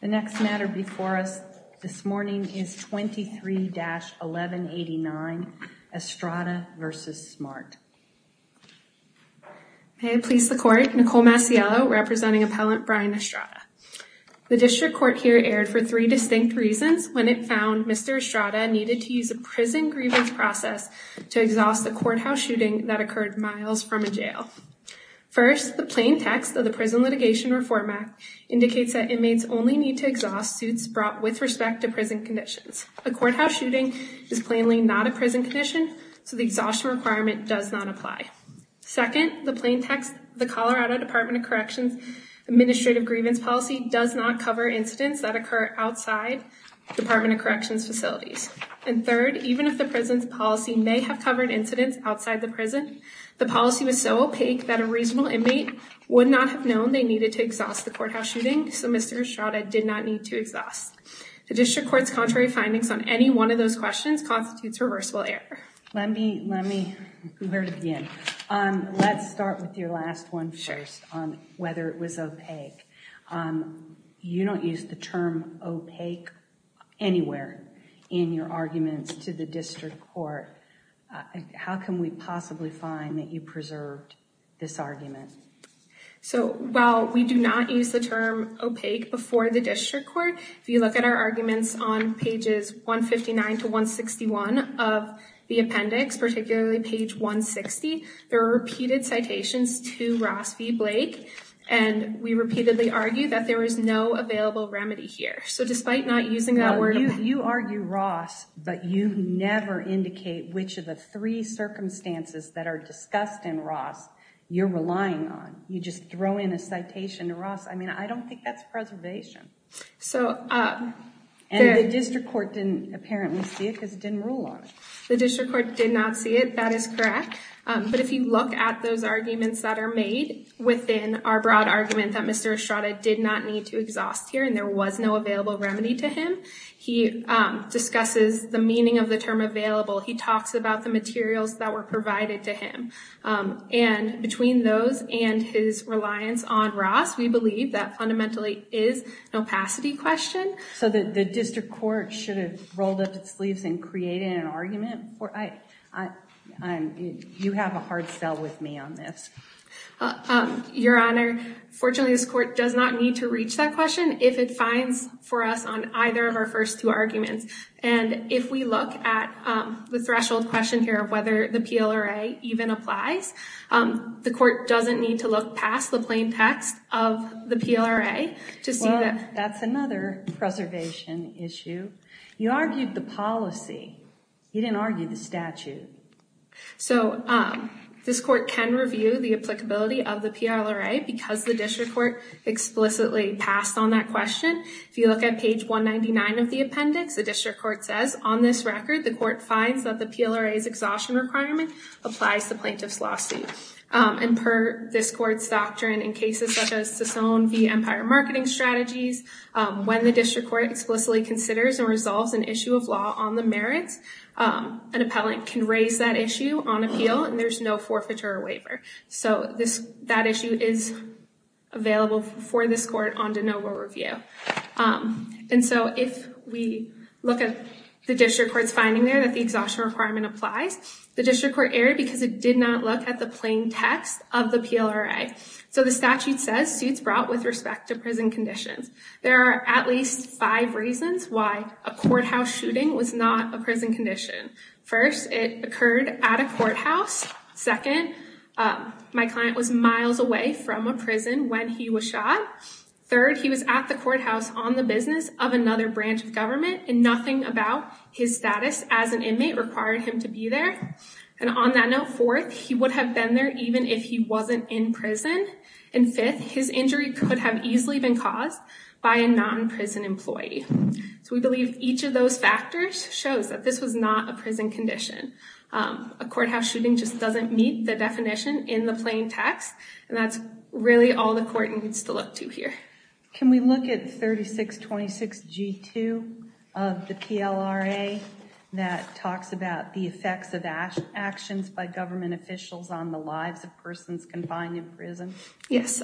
The next matter before us this morning is 23-1189, Estrada v. Smart. May it please the Court, Nicole Macielo representing Appellant Brian Estrada. The District Court here erred for three distinct reasons when it found Mr. Estrada needed to use a prison grievance process to exhaust a courthouse shooting that occurred miles from a jail. First, the plain text of the Prison Litigation Reform Act indicates that inmates only need to exhaust suits brought with respect to prison conditions. A courthouse shooting is plainly not a prison condition, so the exhaustion requirement does not apply. Second, the plain text of the Colorado Department of Corrections Administrative Grievance Policy does not cover incidents that occur outside Department of Corrections facilities. And third, even if the prison's policy may have covered incidents outside the prison, the policy was so opaque that a reasonable inmate would not have known they needed to exhaust the courthouse shooting, so Mr. Estrada did not need to exhaust. The District Court's contrary findings on any one of those questions constitutes reversible error. Let me, let me go over it again. Let's start with your last one first on whether it was opaque. You don't use the term opaque anywhere in your arguments to the District Court. How can we possibly find that you preserved this argument? So while we do not use the term opaque before the District Court, if you look at our arguments on pages 159 to 161 of the appendix, particularly page 160, there are repeated citations to Ross v. Blake, and we repeatedly argue that there was no available remedy here. So despite not using that word, You argue Ross, but you never indicate which of the three circumstances that are discussed in Ross you're relying on. You just throw in a citation to Ross. I mean, I don't think that's preservation. So, And the District Court didn't apparently see it because it didn't rule on it. The District Court did not see it. That is correct. But if you look at those arguments that are made within our broad argument that Mr. Estrada did not need to exhaust here, and there was no available remedy to him, he discusses the meaning of the term available. He talks about the materials that were provided to him. And between those and his reliance on Ross, we believe that fundamentally is an opacity question. So the District Court should have rolled up its sleeves and created an argument? You have a hard sell with me on this. Your Honor, fortunately, this court does not need to reach that question if it finds for us on either of our first two arguments. And if we look at the threshold question here of whether the PLRA even applies, the court doesn't need to look past the plain text of the PLRA to see that. That's another preservation issue. You argued the policy. You didn't argue the statute. So this court can review the applicability of the PLRA because the District Court explicitly passed on that question. If you look at page 199 of the appendix, the District Court says on this record, the court finds that the PLRA's exhaustion requirement applies to plaintiff's lawsuit. And per this court's doctrine in cases such as Sasone v. Empire Marketing Strategies, when the District Court explicitly considers or resolves an issue of law on the merits, an appellant can raise that issue on appeal and there's no forfeiture or waiver. So that issue is available for this court on de novo review. And so if we look at the District Court's finding there that the exhaustion requirement applies, the District Court erred because it did not look at the plain text of the PLRA. So the statute says suits brought with respect to prison conditions. There are at least five reasons why a courthouse shooting was not a prison condition. First, it occurred at a courthouse. Second, my client was miles away from a prison when he was shot. Third, he was at the courthouse on the business of another branch of government and nothing about his status as an inmate required him to be there. And on that note, fourth, he would have been there even if he wasn't in prison. And fifth, his injury could have easily been caused by a non-prison employee. So we believe each of those factors shows that this was not a prison condition. A courthouse shooting just doesn't meet the definition in the plain text. And that's really all the court needs to look to here. Can we look at 3626G2 of the PLRA that talks about the effects of actions by government officials on the lives of persons confined in prison? Yes.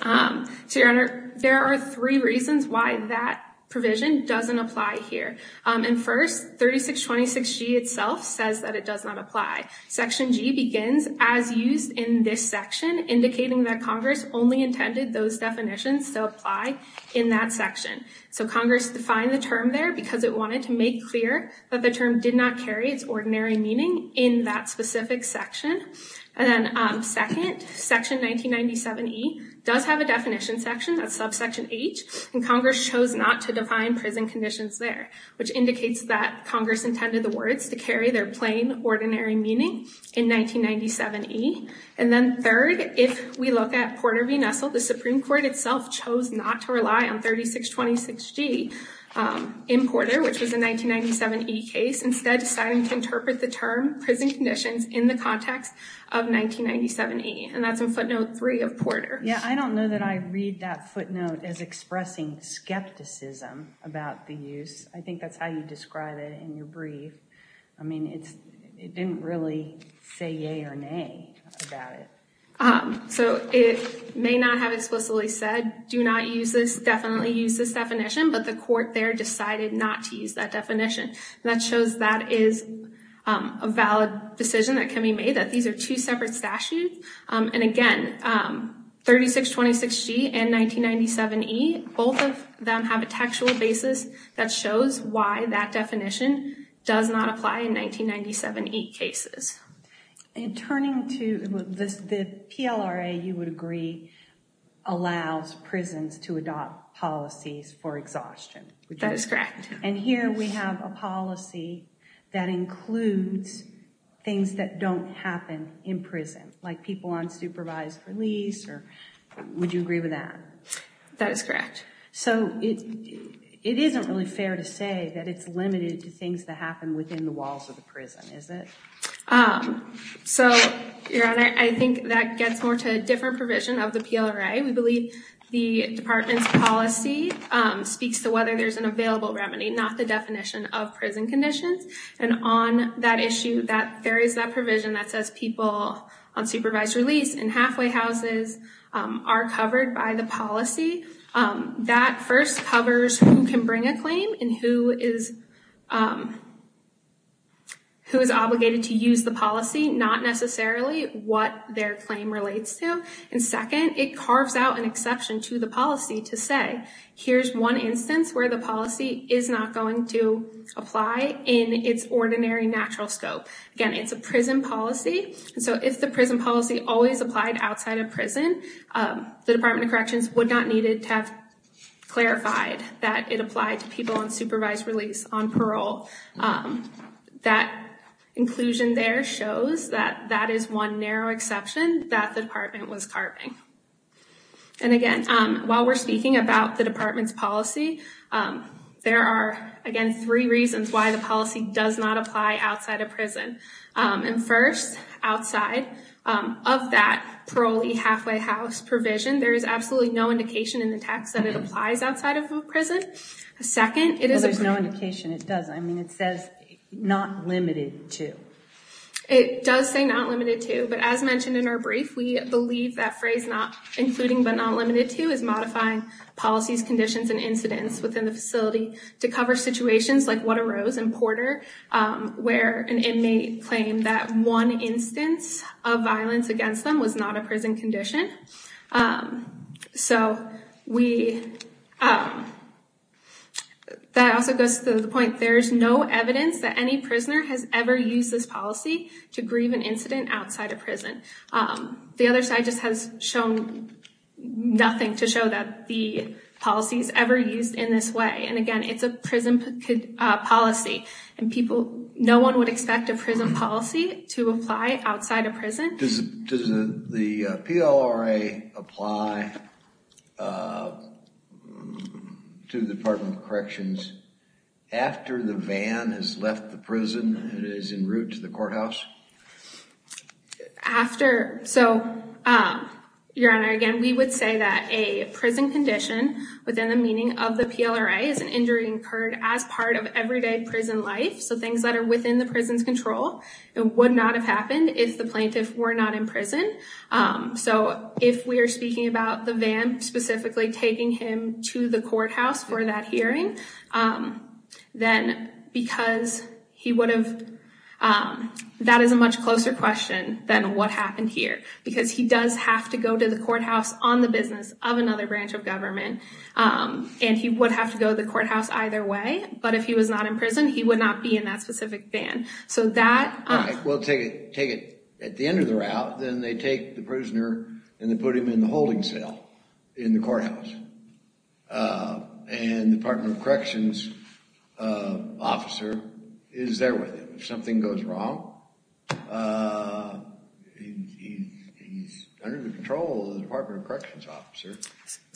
So, Your Honor, there are three reasons why that provision doesn't apply here. And first, 3626G itself says that it does not apply. Section G begins, as used in this section, indicating that Congress only intended those definitions to apply in that section. So Congress defined the term there because it wanted to make clear that the term did not carry its ordinary meaning in that specific section. And then second, section 1997E does have a definition section, that's subsection H, and Congress chose not to define prison conditions there, which indicates that Congress intended the words to carry their plain, ordinary meaning in 1997E. And then third, if we look at Porter v. Nestle, the Supreme Court itself chose not to rely on 3626G in Porter, which was a 1997E case, instead deciding to interpret the term prison conditions in the context of 1997E. And that's in footnote 3 of Porter. Yeah, I don't know that I read that footnote as expressing skepticism about the use. I think that's how you describe it in your brief. I mean, it didn't really say yay or nay about it. So it may not have explicitly said, do not use this, definitely use this definition, but the court there decided not to use that definition. And that shows that is a valid decision that can be made, that these are two separate statutes. And again, 3626G and 1997E, both of them have a textual basis that shows why that definition does not apply in 1997E cases. And turning to the PLRA, you would agree, allows prisons to adopt policies for exhaustion. That is correct. And here we have a policy that includes things that don't happen in prison, like people on supervised release, or would you agree with that? That is correct. So it isn't really fair to say that it's limited to things that happen within the walls of the prison, is it? So, Your Honor, I think that gets more to a different provision of the PLRA. We believe the department's policy speaks to whether there's an available remedy, not the definition of prison conditions. And on that issue, there is that provision that says people on supervised release in halfway houses are covered by the policy. That first covers who can bring a claim and who is obligated to use the policy, not necessarily what their claim relates to. And second, it carves out an exception to the policy to say, here's one instance where the policy is not going to apply in its ordinary natural scope. Again, it's a prison policy. So if the prison policy always applied outside of prison, the Department of Corrections would not need to have clarified that it applied to people on supervised release, on parole. That inclusion there shows that that is one narrow exception that the department was carving. And again, while we're speaking about the department's policy, there are, again, three reasons why the policy does not apply outside of prison. And first, outside of that parolee halfway house provision, there is absolutely no indication in the text that it applies outside of a prison. Well, there's no indication it doesn't. I mean, it says not limited to. It does say not limited to, but as mentioned in our brief, we believe that phrase not including but not limited to is modifying policies, conditions, and incidents within the facility to cover situations like what arose in Porter, where an inmate claimed that one instance of violence against them was not a prison condition. So we. That also goes to the point, there is no evidence that any prisoner has ever used this policy to grieve an incident outside of prison. The other side just has shown nothing to show that the policies ever used in this way. And again, it's a prison policy. And no one would expect a prison policy to apply outside of prison. Does the PLRA apply to the Department of Corrections after the van has left the prison and is en route to the courthouse? After. So, Your Honor, again, we would say that a prison condition within the meaning of the PLRA is an injury incurred as part of everyday prison life. So things that are within the prison's control and would not have happened if the plaintiff were not in prison. So if we are speaking about the van specifically taking him to the courthouse for that hearing, then because he would have. That is a much closer question than what happened here, because he does have to go to the courthouse on the business of another branch of government. And he would have to go to the courthouse either way. But if he was not in prison, he would not be in that specific van. We'll take it at the end of the route. Then they take the prisoner and they put him in the holding cell in the courthouse. And the Department of Corrections officer is there with him. If something goes wrong, he's under the control of the Department of Corrections officer.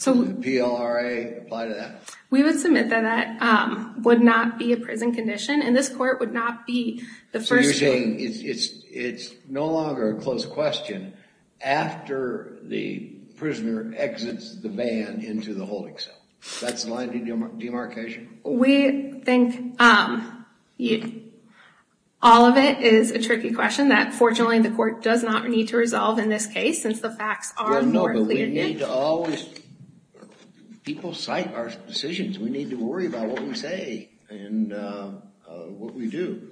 Would the PLRA apply to that? We would submit that that would not be a prison condition. And this court would not be the first. So you're saying it's no longer a close question after the prisoner exits the van into the holding cell. That's the line of demarcation? We think all of it is a tricky question that fortunately the court does not need to resolve in this case, since the facts are here. People cite our decisions. We need to worry about what we say and what we do.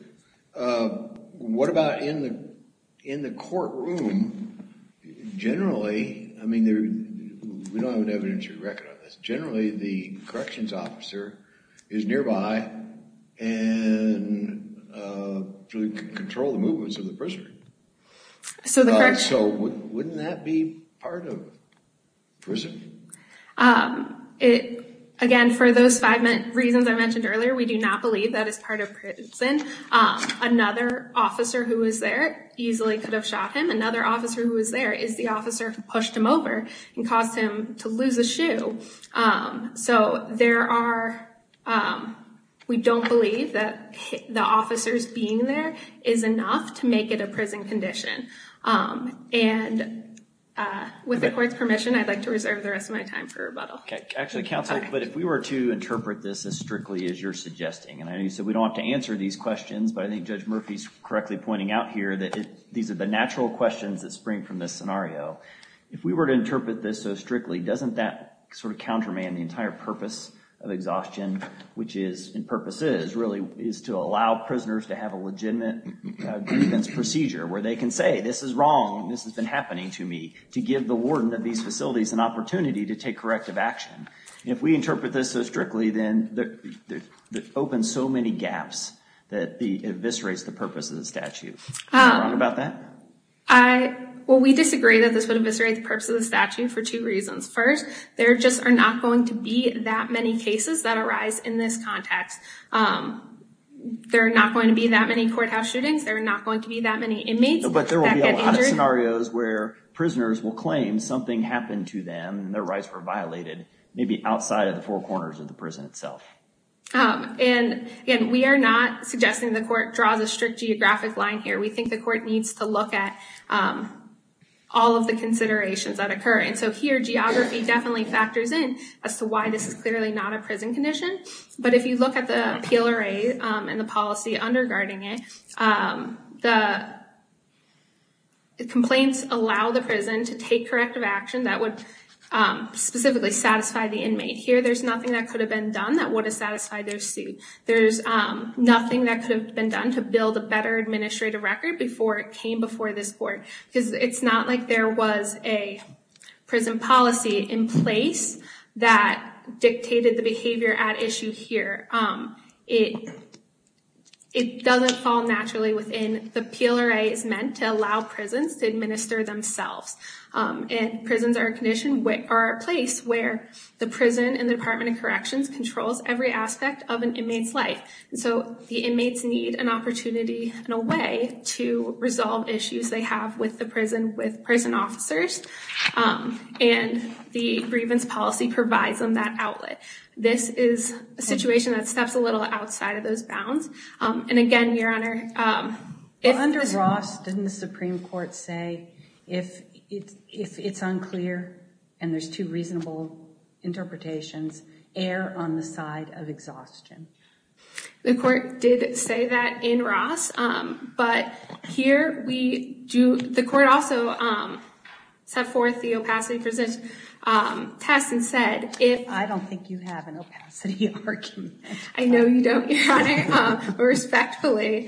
What about in the courtroom? Generally, I mean, we don't have an evidentiary record on this. Generally, the corrections officer is nearby and can control the movements of the prisoner. So wouldn't that be part of prison? Again, for those five reasons I mentioned earlier, we do not believe that is part of prison. Another officer who was there easily could have shot him. Another officer who was there is the officer who pushed him over and caused him to lose a shoe. So there are, we don't believe that the officers being there is enough to make it a prison condition. And with the court's permission, I'd like to reserve the rest of my time for rebuttal. Actually, counsel, but if we were to interpret this as strictly as you're suggesting, and I know you said we don't have to answer these questions, but I think Judge Murphy's correctly pointing out here that these are the natural questions that spring from this scenario. If we were to interpret this so strictly, doesn't that sort of counterman the entire purpose of exhaustion, which is, and purpose is, really is to allow prisoners to have a legitimate grievance procedure where they can say, this is wrong, this has been happening to me, to give the warden of these facilities an opportunity to take corrective action. If we interpret this so strictly, then it opens so many gaps that it eviscerates the purpose of the statute. Am I wrong about that? Well, we disagree that this would eviscerate the purpose of the statute for two reasons. First, there just are not going to be that many cases that arise in this context. There are not going to be that many courthouse shootings. There are not going to be that many inmates that get injured. But there will be a lot of scenarios where prisoners will claim something happened to them, and their rights were violated, maybe outside of the four corners of the prison itself. And again, we are not suggesting the court draws a strict geographic line here. We think the court needs to look at all of the considerations that occur. And so here, geography definitely factors in as to why this is clearly not a prison condition. But if you look at the PLRA and the policy underguarding it, the complaints allow the prison to take corrective action that would specifically satisfy the inmate. Here, there's nothing that could have been done that would have satisfied their suit. There's nothing that could have been done to build a better administrative record before it came before this court. Because it's not like there was a prison policy in place that dictated the behavior at issue here. It doesn't fall naturally within the PLRA's meant to allow prisons to administer themselves. Prisons are a place where the prison and the Department of Corrections controls every aspect of an inmate's life. And so the inmates need an opportunity and a way to resolve issues they have with the prison, with prison officers. And the grievance policy provides them that outlet. This is a situation that steps a little outside of those bounds. And again, Your Honor, Under Ross, didn't the Supreme Court say, if it's unclear and there's two reasonable interpretations, err on the side of exhaustion? The court did say that in Ross. But here, the court also set forth the opacity for this test and said, I don't think you have an opacity argument. I know you don't, Your Honor. Respectfully,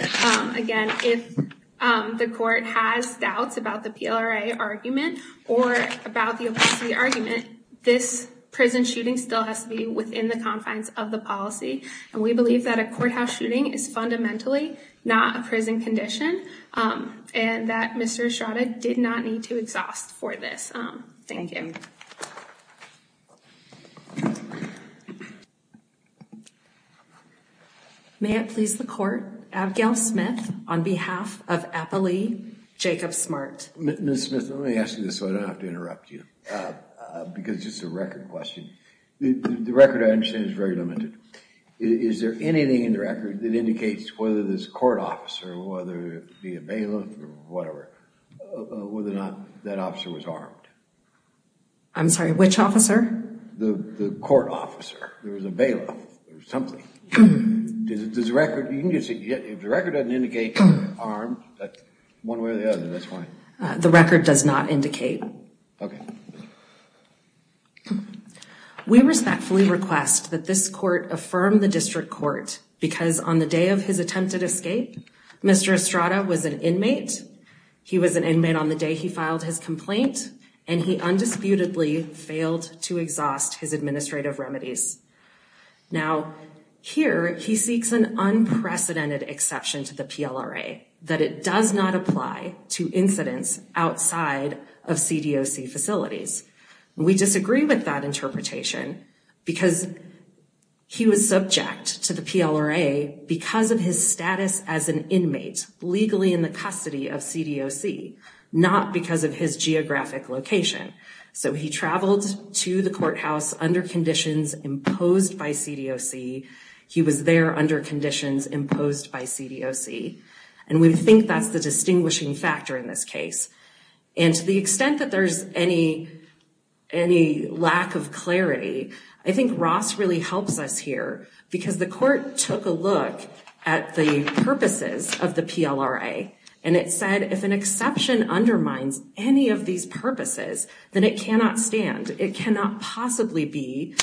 again, if the court has doubts about the PLRA argument or about the opacity argument, this prison shooting still has to be within the confines of the policy. And we believe that a courthouse shooting is fundamentally not a prison condition. And that Mr. Estrada did not need to exhaust for this. Thank you. May it please the court. Abigail Smith, on behalf of APALE, Jacob Smart. Ms. Smith, let me ask you this so I don't have to interrupt you. Because it's just a record question. The record I understand is very limited. Is there anything in the record that indicates whether this court officer, whether it be a bailiff or whatever, whether or not that officer was armed? I'm sorry, which officer? The court officer. There was a bailiff or something. If the record doesn't indicate he was armed, one way or the other, that's fine. The record does not indicate. Okay. We respectfully request that this court affirm the district court because on the day of his attempted escape, Mr. Estrada was an inmate. He was an inmate on the day he filed his complaint. And he undisputedly failed to exhaust his administrative remedies. Now, here he seeks an unprecedented exception to the PLRA, that it does not apply to incidents outside of CDOC facilities. We disagree with that interpretation because he was subject to the PLRA because of his status as an inmate legally in the custody of CDOC, not because of his geographic location. So he traveled to the courthouse under conditions imposed by CDOC. He was there under conditions imposed by CDOC. And we think that's the distinguishing factor in this case. And to the extent that there's any lack of clarity, I think Ross really helps us here because the court took a look at the purposes of the PLRA. And it said if an exception undermines any of these purposes, then it cannot stand. It cannot possibly be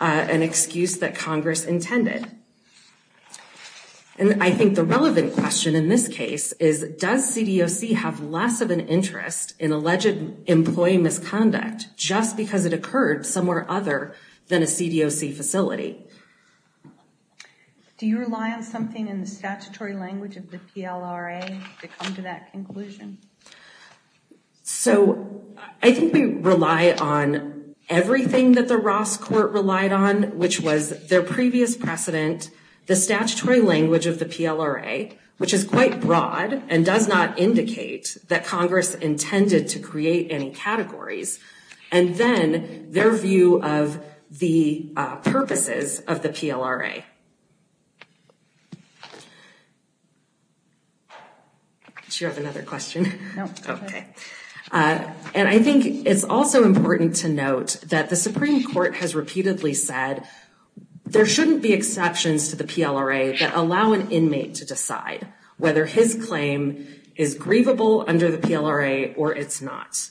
an excuse that Congress intended. And I think the relevant question in this case is, does CDOC have less of an interest in alleged employee misconduct just because it occurred somewhere other than a CDOC facility? Do you rely on something in the statutory language of the PLRA to come to that conclusion? So I think we rely on everything that the Ross court relied on, which was their previous precedent, the statutory language of the PLRA, which is quite broad and does not indicate that Congress intended to create any categories. And then their view of the purposes of the PLRA. Do you have another question? No. Okay. And I think it's also important to note that the Supreme Court has repeatedly said there shouldn't be exceptions to the PLRA that allow an inmate to decide whether his claim is grievable under the PLRA or it's not.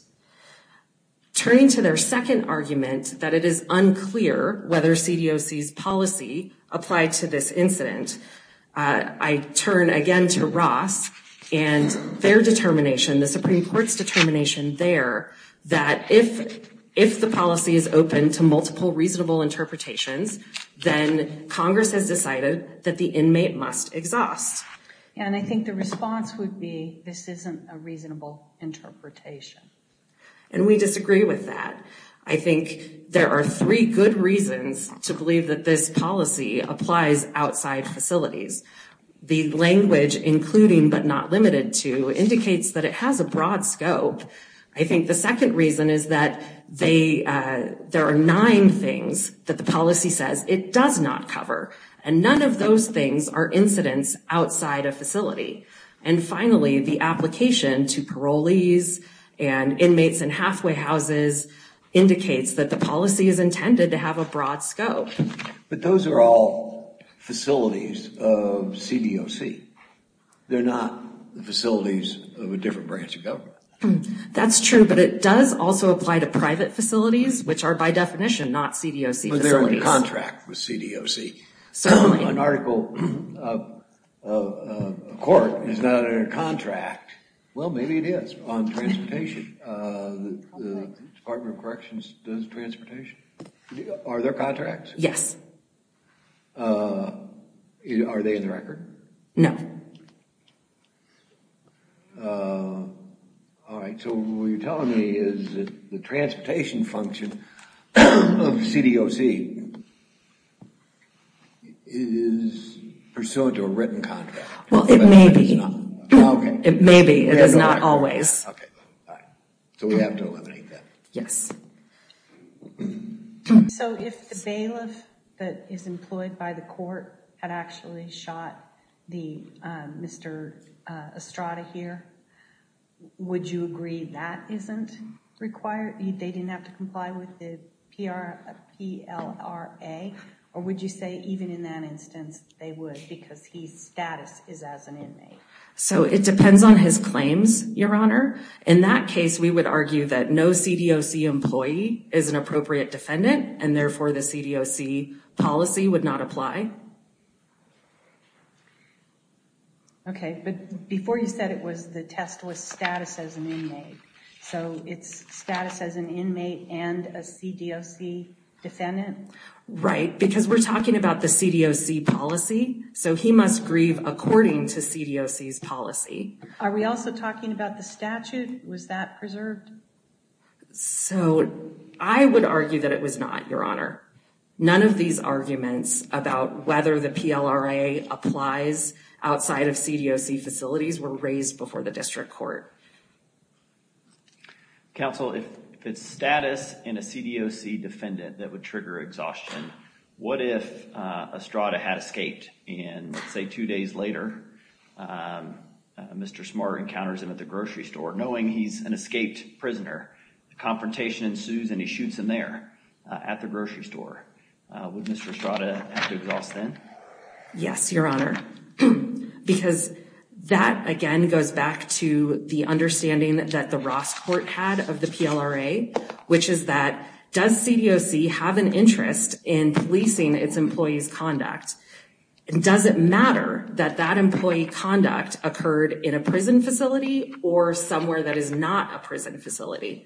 Turning to their second argument that it is unclear whether CDOC's policy applied to this incident, I turn again to Ross and their determination, the Supreme Court's determination there, that if the policy is open to multiple reasonable interpretations, then Congress has decided that the inmate must exhaust. And I think the response would be this isn't a reasonable interpretation. And we disagree with that. I think there are three good reasons to believe that this policy applies outside facilities. The language, including but not limited to, indicates that it has a broad scope. I think the second reason is that there are nine things that the policy says it does not cover. And none of those things are incidents outside a facility. And finally, the application to parolees and inmates in halfway houses indicates that the policy is intended to have a broad scope. But those are all facilities of CDOC. They're not the facilities of a different branch of government. That's true, but it does also apply to private facilities, which are by definition not CDOC facilities. But they're in contract with CDOC. An article of a court is not in a contract. Well, maybe it is on transportation. The Department of Corrections does transportation. Are there contracts? Yes. Are they in the record? No. All right, so what you're telling me is that the transportation function of CDOC is pursuant to a written contract. Well, it may be. It may be. It is not always. So we have to eliminate that. Yes. So if the bailiff that is employed by the court had actually shot Mr. Estrada here, would you agree that isn't required? They didn't have to comply with the PLRA? Or would you say even in that instance they would because his status is as an inmate? So it depends on his claims, Your Honor. In that case, we would argue that no CDOC employee is an appropriate defendant, and therefore the CDOC policy would not apply. Okay, but before you said it was the test was status as an inmate. So it's status as an inmate and a CDOC defendant? Right, because we're talking about the CDOC policy. So he must grieve according to CDOC's policy. Are we also talking about the statute? Was that preserved? So I would argue that it was not, Your Honor. None of these arguments about whether the PLRA applies outside of CDOC facilities were raised before the district court. Counsel, if it's status in a CDOC defendant that would trigger exhaustion, what if Estrada had escaped and, say, two days later, Mr. Smart encounters him at the grocery store. Knowing he's an escaped prisoner, the confrontation ensues and he shoots him there at the grocery store. Would Mr. Estrada have to exhaust then? Yes, Your Honor. Because that, again, goes back to the understanding that the Ross court had of the PLRA, which is that does CDOC have an interest in policing its employees' conduct? Does it matter that that employee conduct occurred in a prison facility or somewhere that is not a prison facility?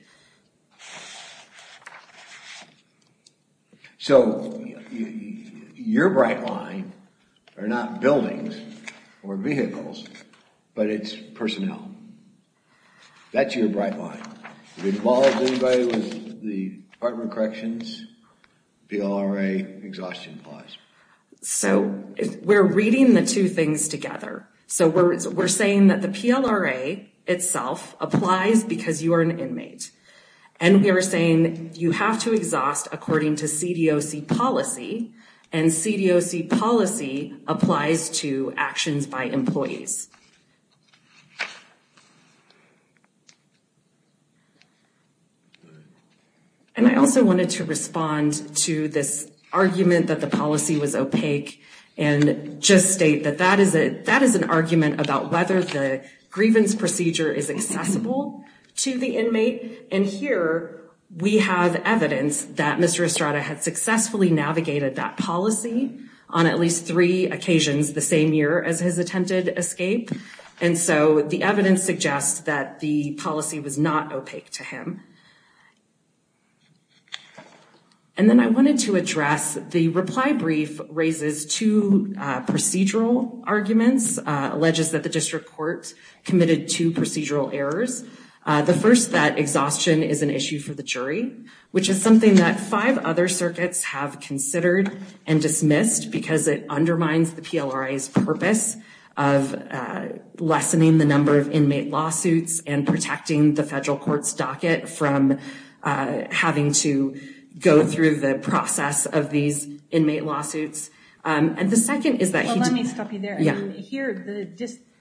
So your bright line are not buildings or vehicles, but it's personnel. That's your bright line. It involves anybody with the Department of Corrections, PLRA, exhaustion clause. So we're reading the two things together. So we're saying that the PLRA itself applies because you are an inmate. And we are saying you have to exhaust according to CDOC policy, and CDOC policy applies to actions by employees. And I also wanted to respond to this argument that the policy was opaque and just state that that is an argument about whether the grievance procedure is accessible to the inmate. And here we have evidence that Mr. Estrada had successfully navigated that policy on at least three occasions the same year as his attempted escape. And so the evidence suggests that the policy was not opaque to him. And then I wanted to address the reply brief raises two procedural arguments, alleges that the district court committed two procedural errors. The first, that exhaustion is an issue for the jury, which is something that five other circuits have considered and dismissed because it undermines the PLRA's purpose of lessening the number of inmate lawsuits and protecting the federal court's docket from having to go through the process of these inmate lawsuits. And the second is that... Well, let me stop you there. Yeah. Here, the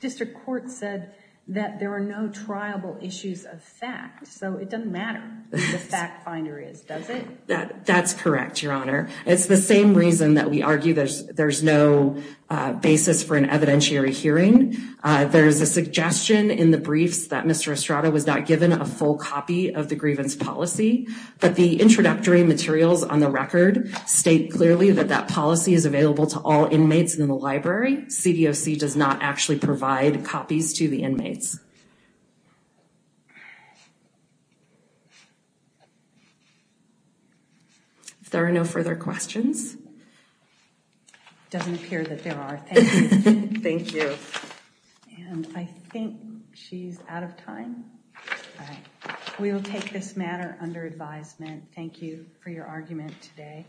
district court said that there are no triable issues of fact. So it doesn't matter who the fact finder is, does it? That's correct, Your Honor. It's the same reason that we argue there's no basis for an evidentiary hearing. There's a suggestion in the briefs that Mr. Estrada was not given a full copy of the grievance policy, but the introductory materials on the record state clearly that that policy is available to all inmates in the library. CDOC does not actually provide copies to the inmates. If there are no further questions... It doesn't appear that there are. Thank you. Thank you. And I think she's out of time. All right. We will take this matter under advisement. Thank you for your argument today.